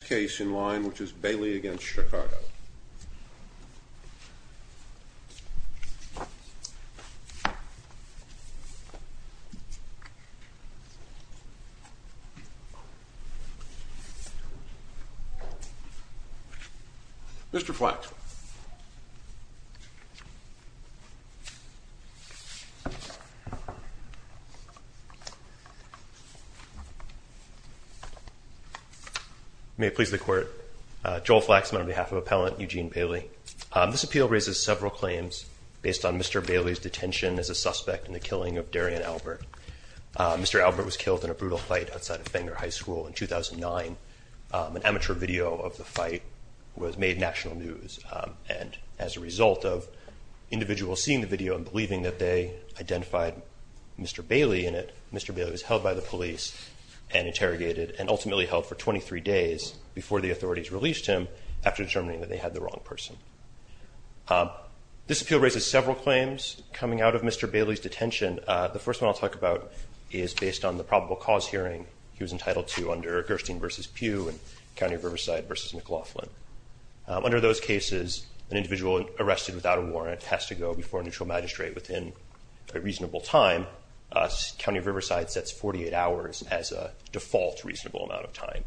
The case in line which is Bailey v. Chicago Mr. Flack May it please the Court, Joel Flack is on behalf of Appellant Eugene Bailey. This appeal raises several claims based on Mr. Bailey's detention as a suspect in the killing of Darian Albert. Mr. Albert was killed in a brutal fight outside of Fenger High School in 2009. An amateur video of the fight was made national news and as a result of individuals seeing the video and believing that they identified Mr. Bailey in it, Mr. Bailey was held by the police and interrogated and ultimately held for 23 days before the authorities released him after determining that they had the wrong person. This appeal raises several claims coming out of Mr. Bailey's detention. The first one I'll talk about is based on the probable cause hearing he was entitled to under Gerstein v. Pugh and County Riverside v. McLaughlin. Under those cases, an individual arrested without a warrant has to go before a neutral magistrate within a reasonable time. County Riverside sets 48 hours as a default reasonable amount of time.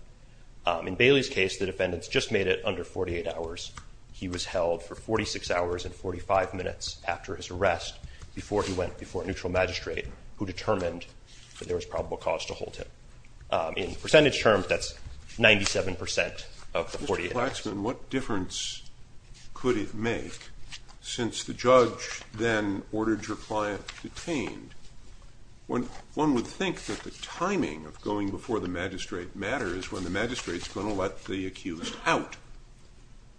In Bailey's case, the defendants just made it under 48 hours. He was held for 46 hours and 45 minutes after his arrest before he went before a neutral magistrate who determined that there was probable cause to hold him. In percentage terms, that's 97% of the 48 hours. Mr. Plaxman, what difference could it make since the judge then ordered your client detained? One would think that the timing of going before the magistrate matters when the magistrate is going to let the accused out,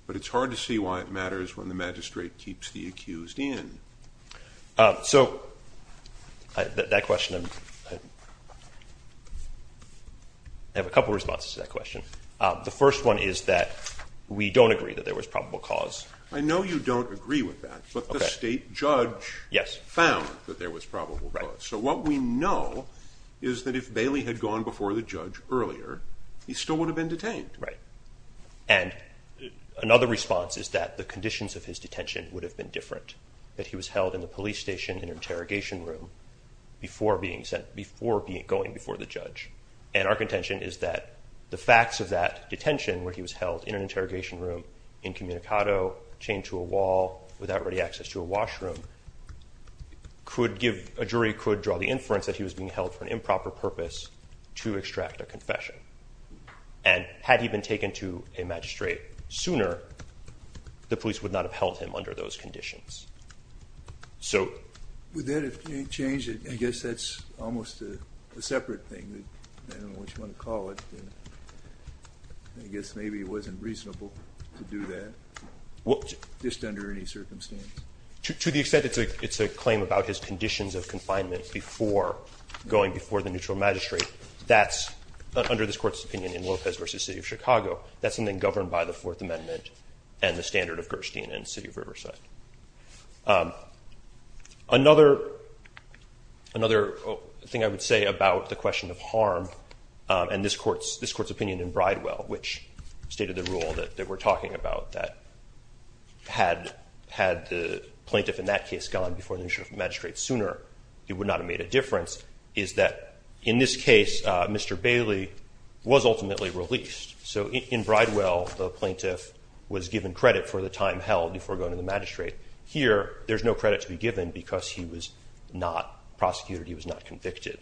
but it's hard to see why it matters when the magistrate keeps the accused in. I have a couple of responses to that question. The first one is that we don't agree that there was probable cause. I know you don't agree with that, but the state judge found that there was probable cause. So what we know is that if Bailey had gone before the judge earlier, he still would have been detained. Another response is that the conditions of his detention would have been different. He was held in the police station in an interrogation room before going before the judge. Our contention is that the facts of that detention, where he was held in an interrogation room, incommunicado, chained to a wall, without ready access to a washroom, a jury could draw the inference that he was being held for an improper purpose to extract a confession. And had he been taken to a magistrate sooner, the police would not have held him under those conditions. So. With that, if you change it, I guess that's almost a separate thing. I don't know what you want to call it, but I guess maybe it wasn't reasonable to do that, just under any circumstance. To the extent it's a claim about his conditions of confinement before going before the neutral magistrate, that's, under this Court's opinion in Lopez v. City of Chicago, that's something governed by the Fourth Amendment and the standard of Gerstein in the city of Riverside. Another thing I would say about the question of harm, and this Court's opinion in Bridewell, which stated the rule that we're talking about, that had the plaintiff in that case gone before the magistrate sooner, it would not have made a difference, is that in this case, Mr. Bailey was ultimately released. So in Bridewell, the plaintiff was given credit for the time held before going to the magistrate. Here, there's no credit to be given because he was not prosecuted, he was not convicted.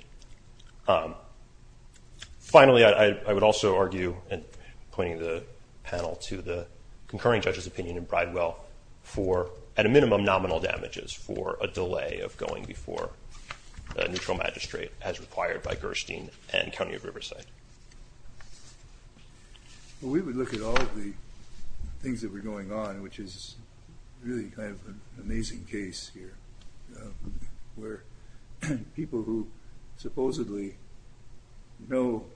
Finally, I would also argue, and pointing the panel to the concurring judge's opinion in Bridewell, for, at a minimum, nominal damages for a delay of going before the neutral magistrate, as required by Gerstein and County of Riverside. Well, we would look at all of the things that were going on, which is really kind of an amazing case here, where people who supposedly know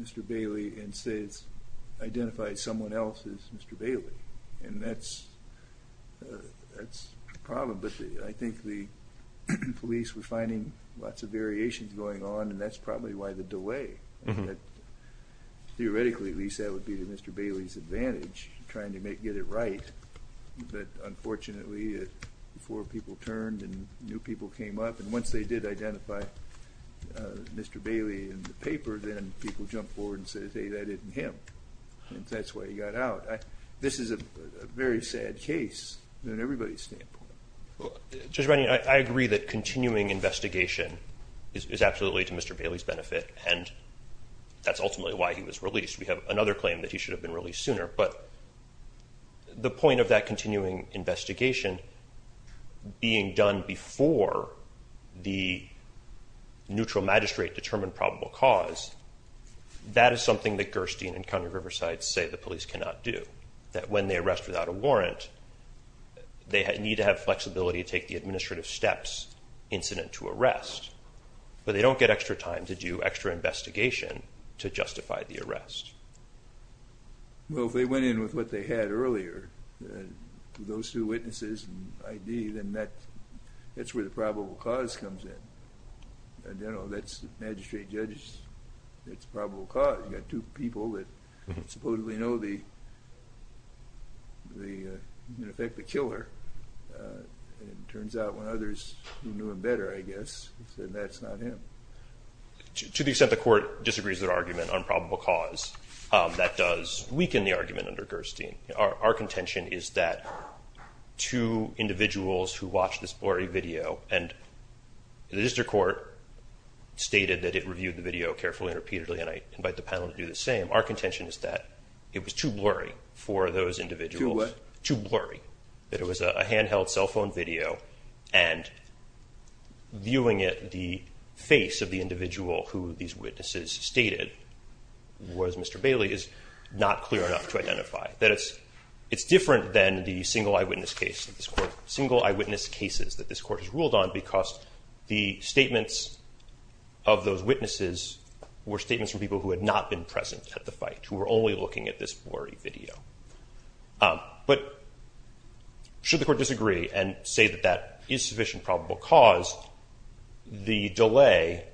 Mr. Bailey and say it's identified someone else as Mr. Bailey, and that's a problem, but I think the police were finding lots of variations going on, and that's probably why the delay, that theoretically, at least, that would be to Mr. Bailey's advantage, trying to get it right, but unfortunately, before people turned and new people came up, and once they did identify Mr. Bailey in the paper, then people jumped forward and said, hey, that isn't him, and that's why he got out. This is a very sad case, from everybody's standpoint. Judge Rennie, I agree that continuing investigation is absolutely to Mr. Bailey's benefit, and that's ultimately why he was released. We have another claim that he should have been released sooner, but the point of that continuing investigation being done before the neutral magistrate determined probable cause, that is something that Gerstein and Conner Riverside say the police cannot do, that when they arrest without a warrant, they need to have flexibility to take the administrative steps incident to arrest, but they don't get extra time to do extra investigation to justify the arrest. Well, if they went in with what they had earlier, those two witnesses and ID, then that's where the probable cause comes in. I don't know if that's magistrate judges, that's probable cause. You've got two people that supposedly know the, in effect, the killer, and it turns out when others knew him better, I guess, then that's not him. To the extent the court disagrees with their argument on probable cause, that does weaken the argument under Gerstein. Our contention is that two individuals who watched this blurry video, and the district court stated that it reviewed the video carefully and repeatedly, and I invite the panel to do the same. Our contention is that it was too blurry for those individuals. Too what? Too blurry, that it was a handheld cell phone video, and viewing it, the face of the individual who these witnesses stated was Mr. Bailey is not clear enough to identify, that it's different than the single eyewitness cases that this court has ruled on, because the statements of those witnesses were statements from people who had not been present at the fight, who were only looking at this blurry video. But should the court disagree and say that that is sufficient probable cause, the delay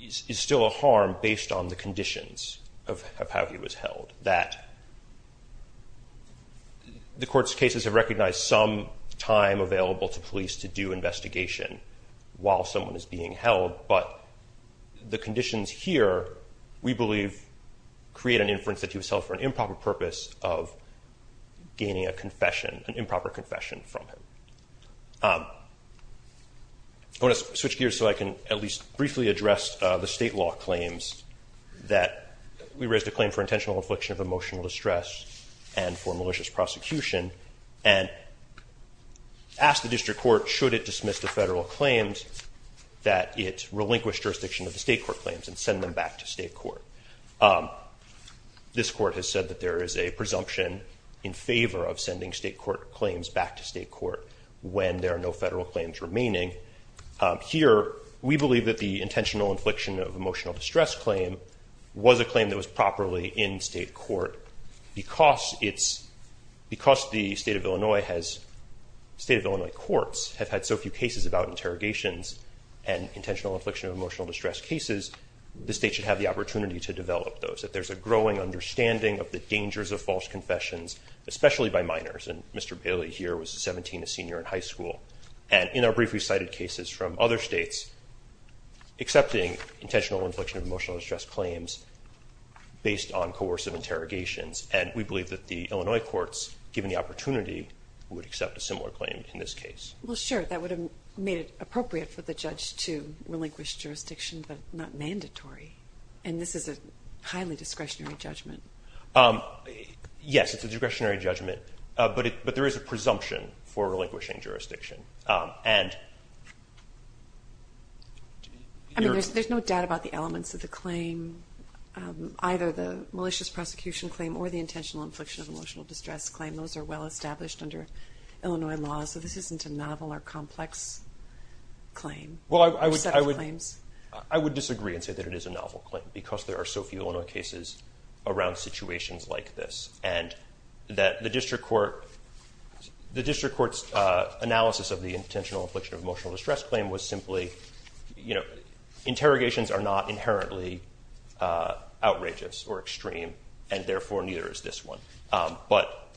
is still a harm based on the conditions of how he was held. That the court's cases have recognized some time available to police to do investigation while someone is being held, but the conditions here, we believe, create an inference that he was held for an improper purpose of gaining a confession, an improper confession from him. I want to switch gears so I can at least briefly address the state law claims that we raised a claim for intentional infliction of emotional distress and for malicious prosecution, and ask the district court should it dismiss the federal claims that it relinquished jurisdiction of the state court claims and send them back to state court. This court has said that there is a presumption in favor of sending state court claims back to state court when there are no federal claims remaining. Here, we believe that the intentional infliction of emotional distress claim was a claim that was generally in state court because it's, because the state of Illinois has, state of Illinois courts have had so few cases about interrogations and intentional infliction of emotional distress cases, the state should have the opportunity to develop those, that there's a growing understanding of the dangers of false confessions, especially by minors. And Mr. Bailey here was 17, a senior in high school. And in our brief, we cited cases from other states accepting intentional infliction of based on coercive interrogations. And we believe that the Illinois courts, given the opportunity, would accept a similar claim in this case. Well, sure. That would have made it appropriate for the judge to relinquish jurisdiction, but not mandatory. And this is a highly discretionary judgment. Yes, it's a discretionary judgment, but it, but there is a presumption for relinquishing jurisdiction. I mean, there's, there's no doubt about the elements of the claim, either the malicious prosecution claim or the intentional infliction of emotional distress claim, those are well established under Illinois laws, so this isn't a novel or complex claim. Well, I would, I would, I would disagree and say that it is a novel claim because there are so few cases around situations like this and that the district court, the district court's analysis of the intentional infliction of emotional distress claim was simply, you know, interrogations are not inherently outrageous or extreme and therefore neither is this one. But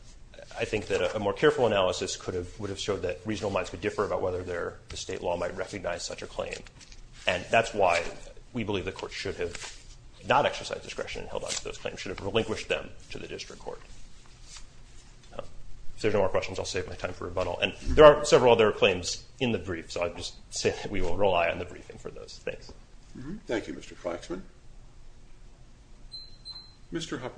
I think that a more careful analysis could have, would have showed that reasonable minds could differ about whether their, the state law might recognize such a claim. And that's why we believe the court should have not exercised discretion and held on to those claims, should have relinquished them to the district court. If there's no more questions, I'll save my time for rebuttal. And there are several other claims in the brief, so I'll just say that we will roll eye on the briefing for those. Thanks. Thank you, Mr. Claxman. Mr. Hubbard.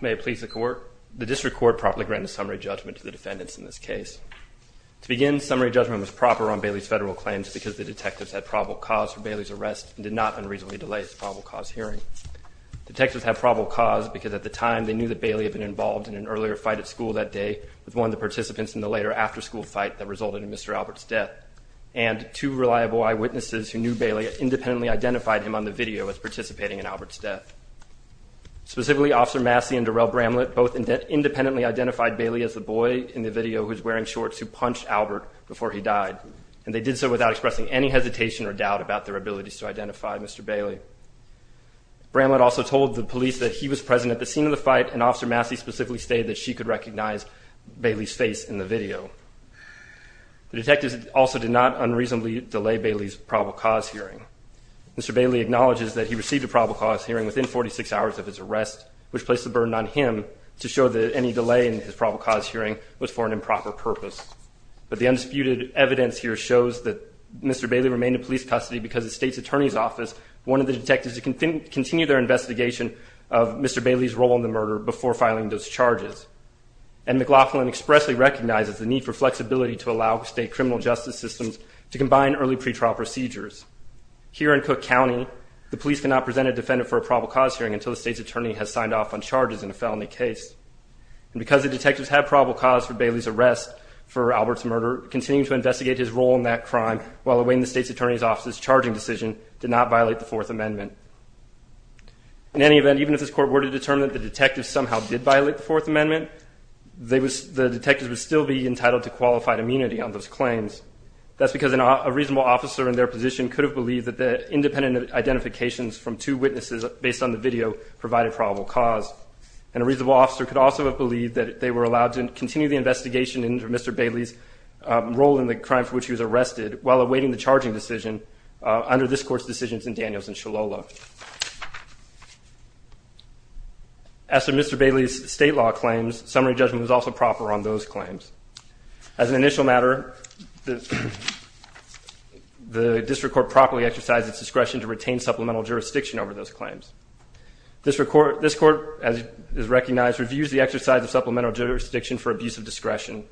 May it please the court. The district court promptly granted summary judgment to the defendants in this case. To begin, summary judgment was proper on Bailey's federal claims because the detectives had probable cause for Bailey's arrest and did not unreasonably delay his probable cause hearing. Detectives have probable cause because at the time they knew that Bailey had been involved in an earlier fight at school that day with one of the participants in the later after school fight that resulted in Mr. Albert's death. And two reliable eyewitnesses who knew Bailey independently identified him on the video as participating in Albert's death. Specifically Officer Massey and Darrell Bramlett both independently identified Bailey as the boy in the video who's wearing shorts who punched Albert before he died. And they did so without expressing any hesitation or doubt about their abilities to identify Mr. Bailey. Bramlett also told the police that he was present at the scene of the fight and Officer Massey specifically stated that she could recognize Bailey's face in the video. The detectives also did not unreasonably delay Bailey's probable cause hearing. Mr. Bailey acknowledges that he received a probable cause hearing within 46 hours of his arrest, which placed the burden on him to show that any delay in his probable cause hearing was for an improper purpose. But the undisputed evidence here shows that Mr. Bailey remained in police custody because the state's attorney's office wanted the detectives to continue their investigation of Mr. Bailey's role in the murder before filing those charges. And McLaughlin expressly recognizes the need for flexibility to allow state criminal justice systems to combine early pretrial procedures. Here in Cook County, the police cannot present a defendant for a probable cause hearing until the state's attorney has signed off on charges in a felony case. And because the detectives had probable cause for Bailey's arrest for Albert's murder, continuing to investigate his role in that crime while awaiting the state's attorney's office's charging decision did not violate the Fourth Amendment. In any event, even if this Court were to determine that the detectives somehow did violate the Fourth Amendment, the detectives would still be entitled to qualified immunity on those claims. That's because a reasonable officer in their position could have believed that the independent identifications from two witnesses based on the video provided probable cause. And a reasonable officer could also have believed that they were allowed to continue the investigation into Mr. Bailey's role in the crime for which he was arrested while awaiting the charging decision under this Court's decisions in Daniels and Shillolo. As to Mr. Bailey's state law claims, summary judgment was also proper on those claims. As an initial matter, the District Court properly exercised its discretion to retain supplemental jurisdiction over those claims. This Court, as is recognized, reviews the exercise of supplemental jurisdiction for abuse of discretion.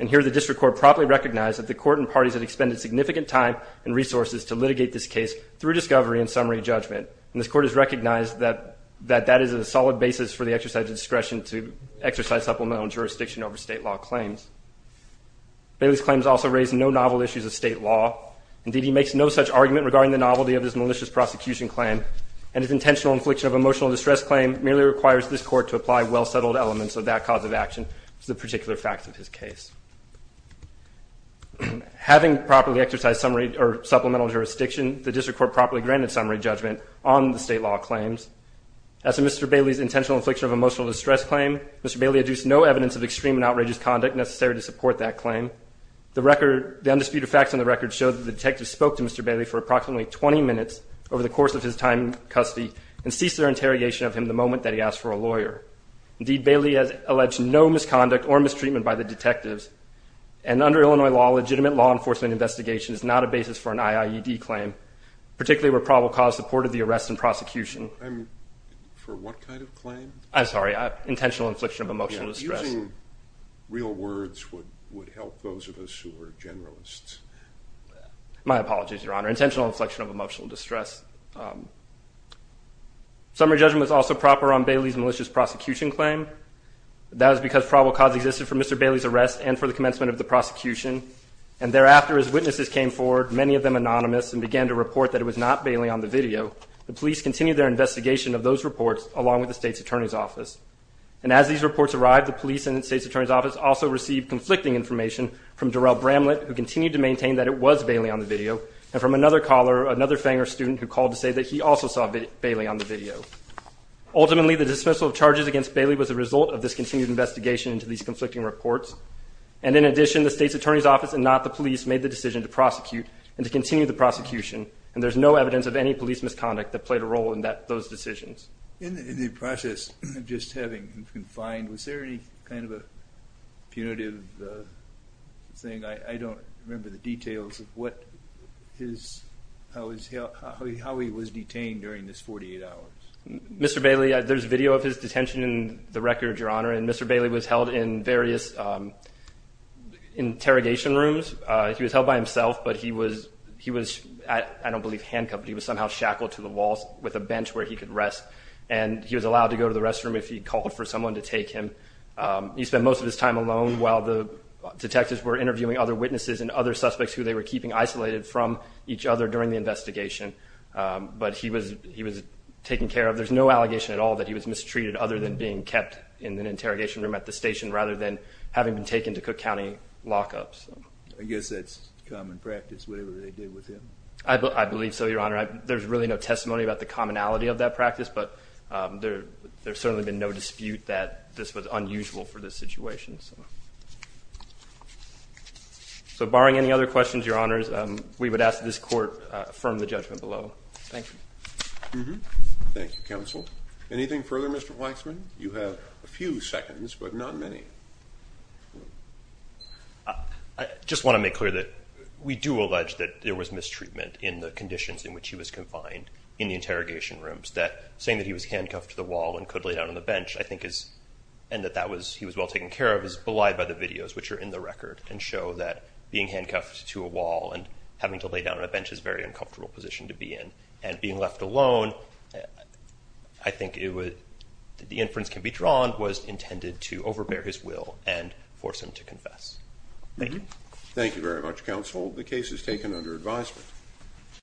And here the District Court properly recognized that the Court and parties had expended significant time and resources to litigate this case through discovery and summary judgment. And this Court has recognized that that is a solid basis for the exercise of discretion to exercise supplemental jurisdiction over state law claims. Bailey's claims also raise no novel issues of state law. Indeed, he makes no such argument regarding the novelty of this malicious prosecution claim and his intentional infliction of emotional distress claim merely requires this Court to apply well-settled elements of that cause of action to the particular fact of his case. Having properly exercised supplemental jurisdiction, the District Court properly granted summary judgment on the state law claims. As to Mr. Bailey's intentional infliction of emotional distress claim, Mr. Bailey adduced no evidence of extreme and outrageous conduct necessary to support that claim. The record, the undisputed facts on the record show that the detective spoke to Mr. Bailey for approximately 20 minutes over the course of his time in custody and ceased their interrogation of him the moment that he asked for a lawyer. Indeed, Bailey has alleged no misconduct or mistreatment by the detectives. And under Illinois law, legitimate law enforcement investigation is not a basis for an IIED claim, particularly where probable cause supported the arrest and prosecution. I'm... for what kind of claim? I'm sorry, intentional infliction of emotional distress. Using real words would help those of us who are generalists. My apologies, Your Honor. Intentional inflection of emotional distress. Summary judgment was also proper on Bailey's malicious prosecution claim. That was because probable cause existed for Mr. Bailey's arrest and for the commencement of the prosecution. And as these reports arrived, the police and the State's Attorney's Office also received conflicting information from Darrell Bramlett, who continued to maintain that it was Bailey on the video, and from another caller, another Fanger student who called to say that he also saw Bailey on the video. Ultimately, the dismissal of charges against Bailey was the result of this continued investigation into these conflicting reports. And in addition, the State's Attorney's Office and not the police made the decision to prosecute and to continue the prosecution. And there's no evidence of any police misconduct that played a role in those decisions. In the process of just having him confined, was there any kind of a punitive thing? I don't remember the details of what his... how he was detained during this 48 hours. Mr. Bailey, there's video of his detention in the record, Your Honor, and Mr. Bailey was held in various interrogation rooms. He was held by himself, but he was, I don't believe handcuffed, but he was somehow shackled to the walls with a bench where he could rest. And he was allowed to go to the restroom if he called for someone to take him. He spent most of his time alone while the detectives were interviewing other witnesses and other suspects who they were keeping isolated from each other during the investigation. But he was taken care of. There's no allegation at all that he was mistreated other than being kept in an interrogation room at the station, rather than having been taken to Cook County lockups. I guess that's common practice, whatever they did with him. I believe so, Your Honor. There's really no testimony about the commonality of that practice, but there's certainly been no dispute that this was unusual for this situation. So barring any other questions, Your Honors, we would ask that this Court affirm the judgment below. Thank you. Thank you, Counsel. Anything further, Mr. Weissman? You have a few seconds, but not many. I just want to make clear that we do allege that there was mistreatment in the conditions in which he was confined in the interrogation rooms. That saying that he was handcuffed to the wall and could lay down on the bench, I think is, and that he was well taken care of, is belied by the videos which are in the record and show that being handcuffed to a wall and having to lay down on a bench is a very uncomfortable position to be in. And being left alone, I think the inference can be drawn, was intended to overbear his will and force him to confess. Thank you. Thank you very much, Counsel. The case is taken under advisement.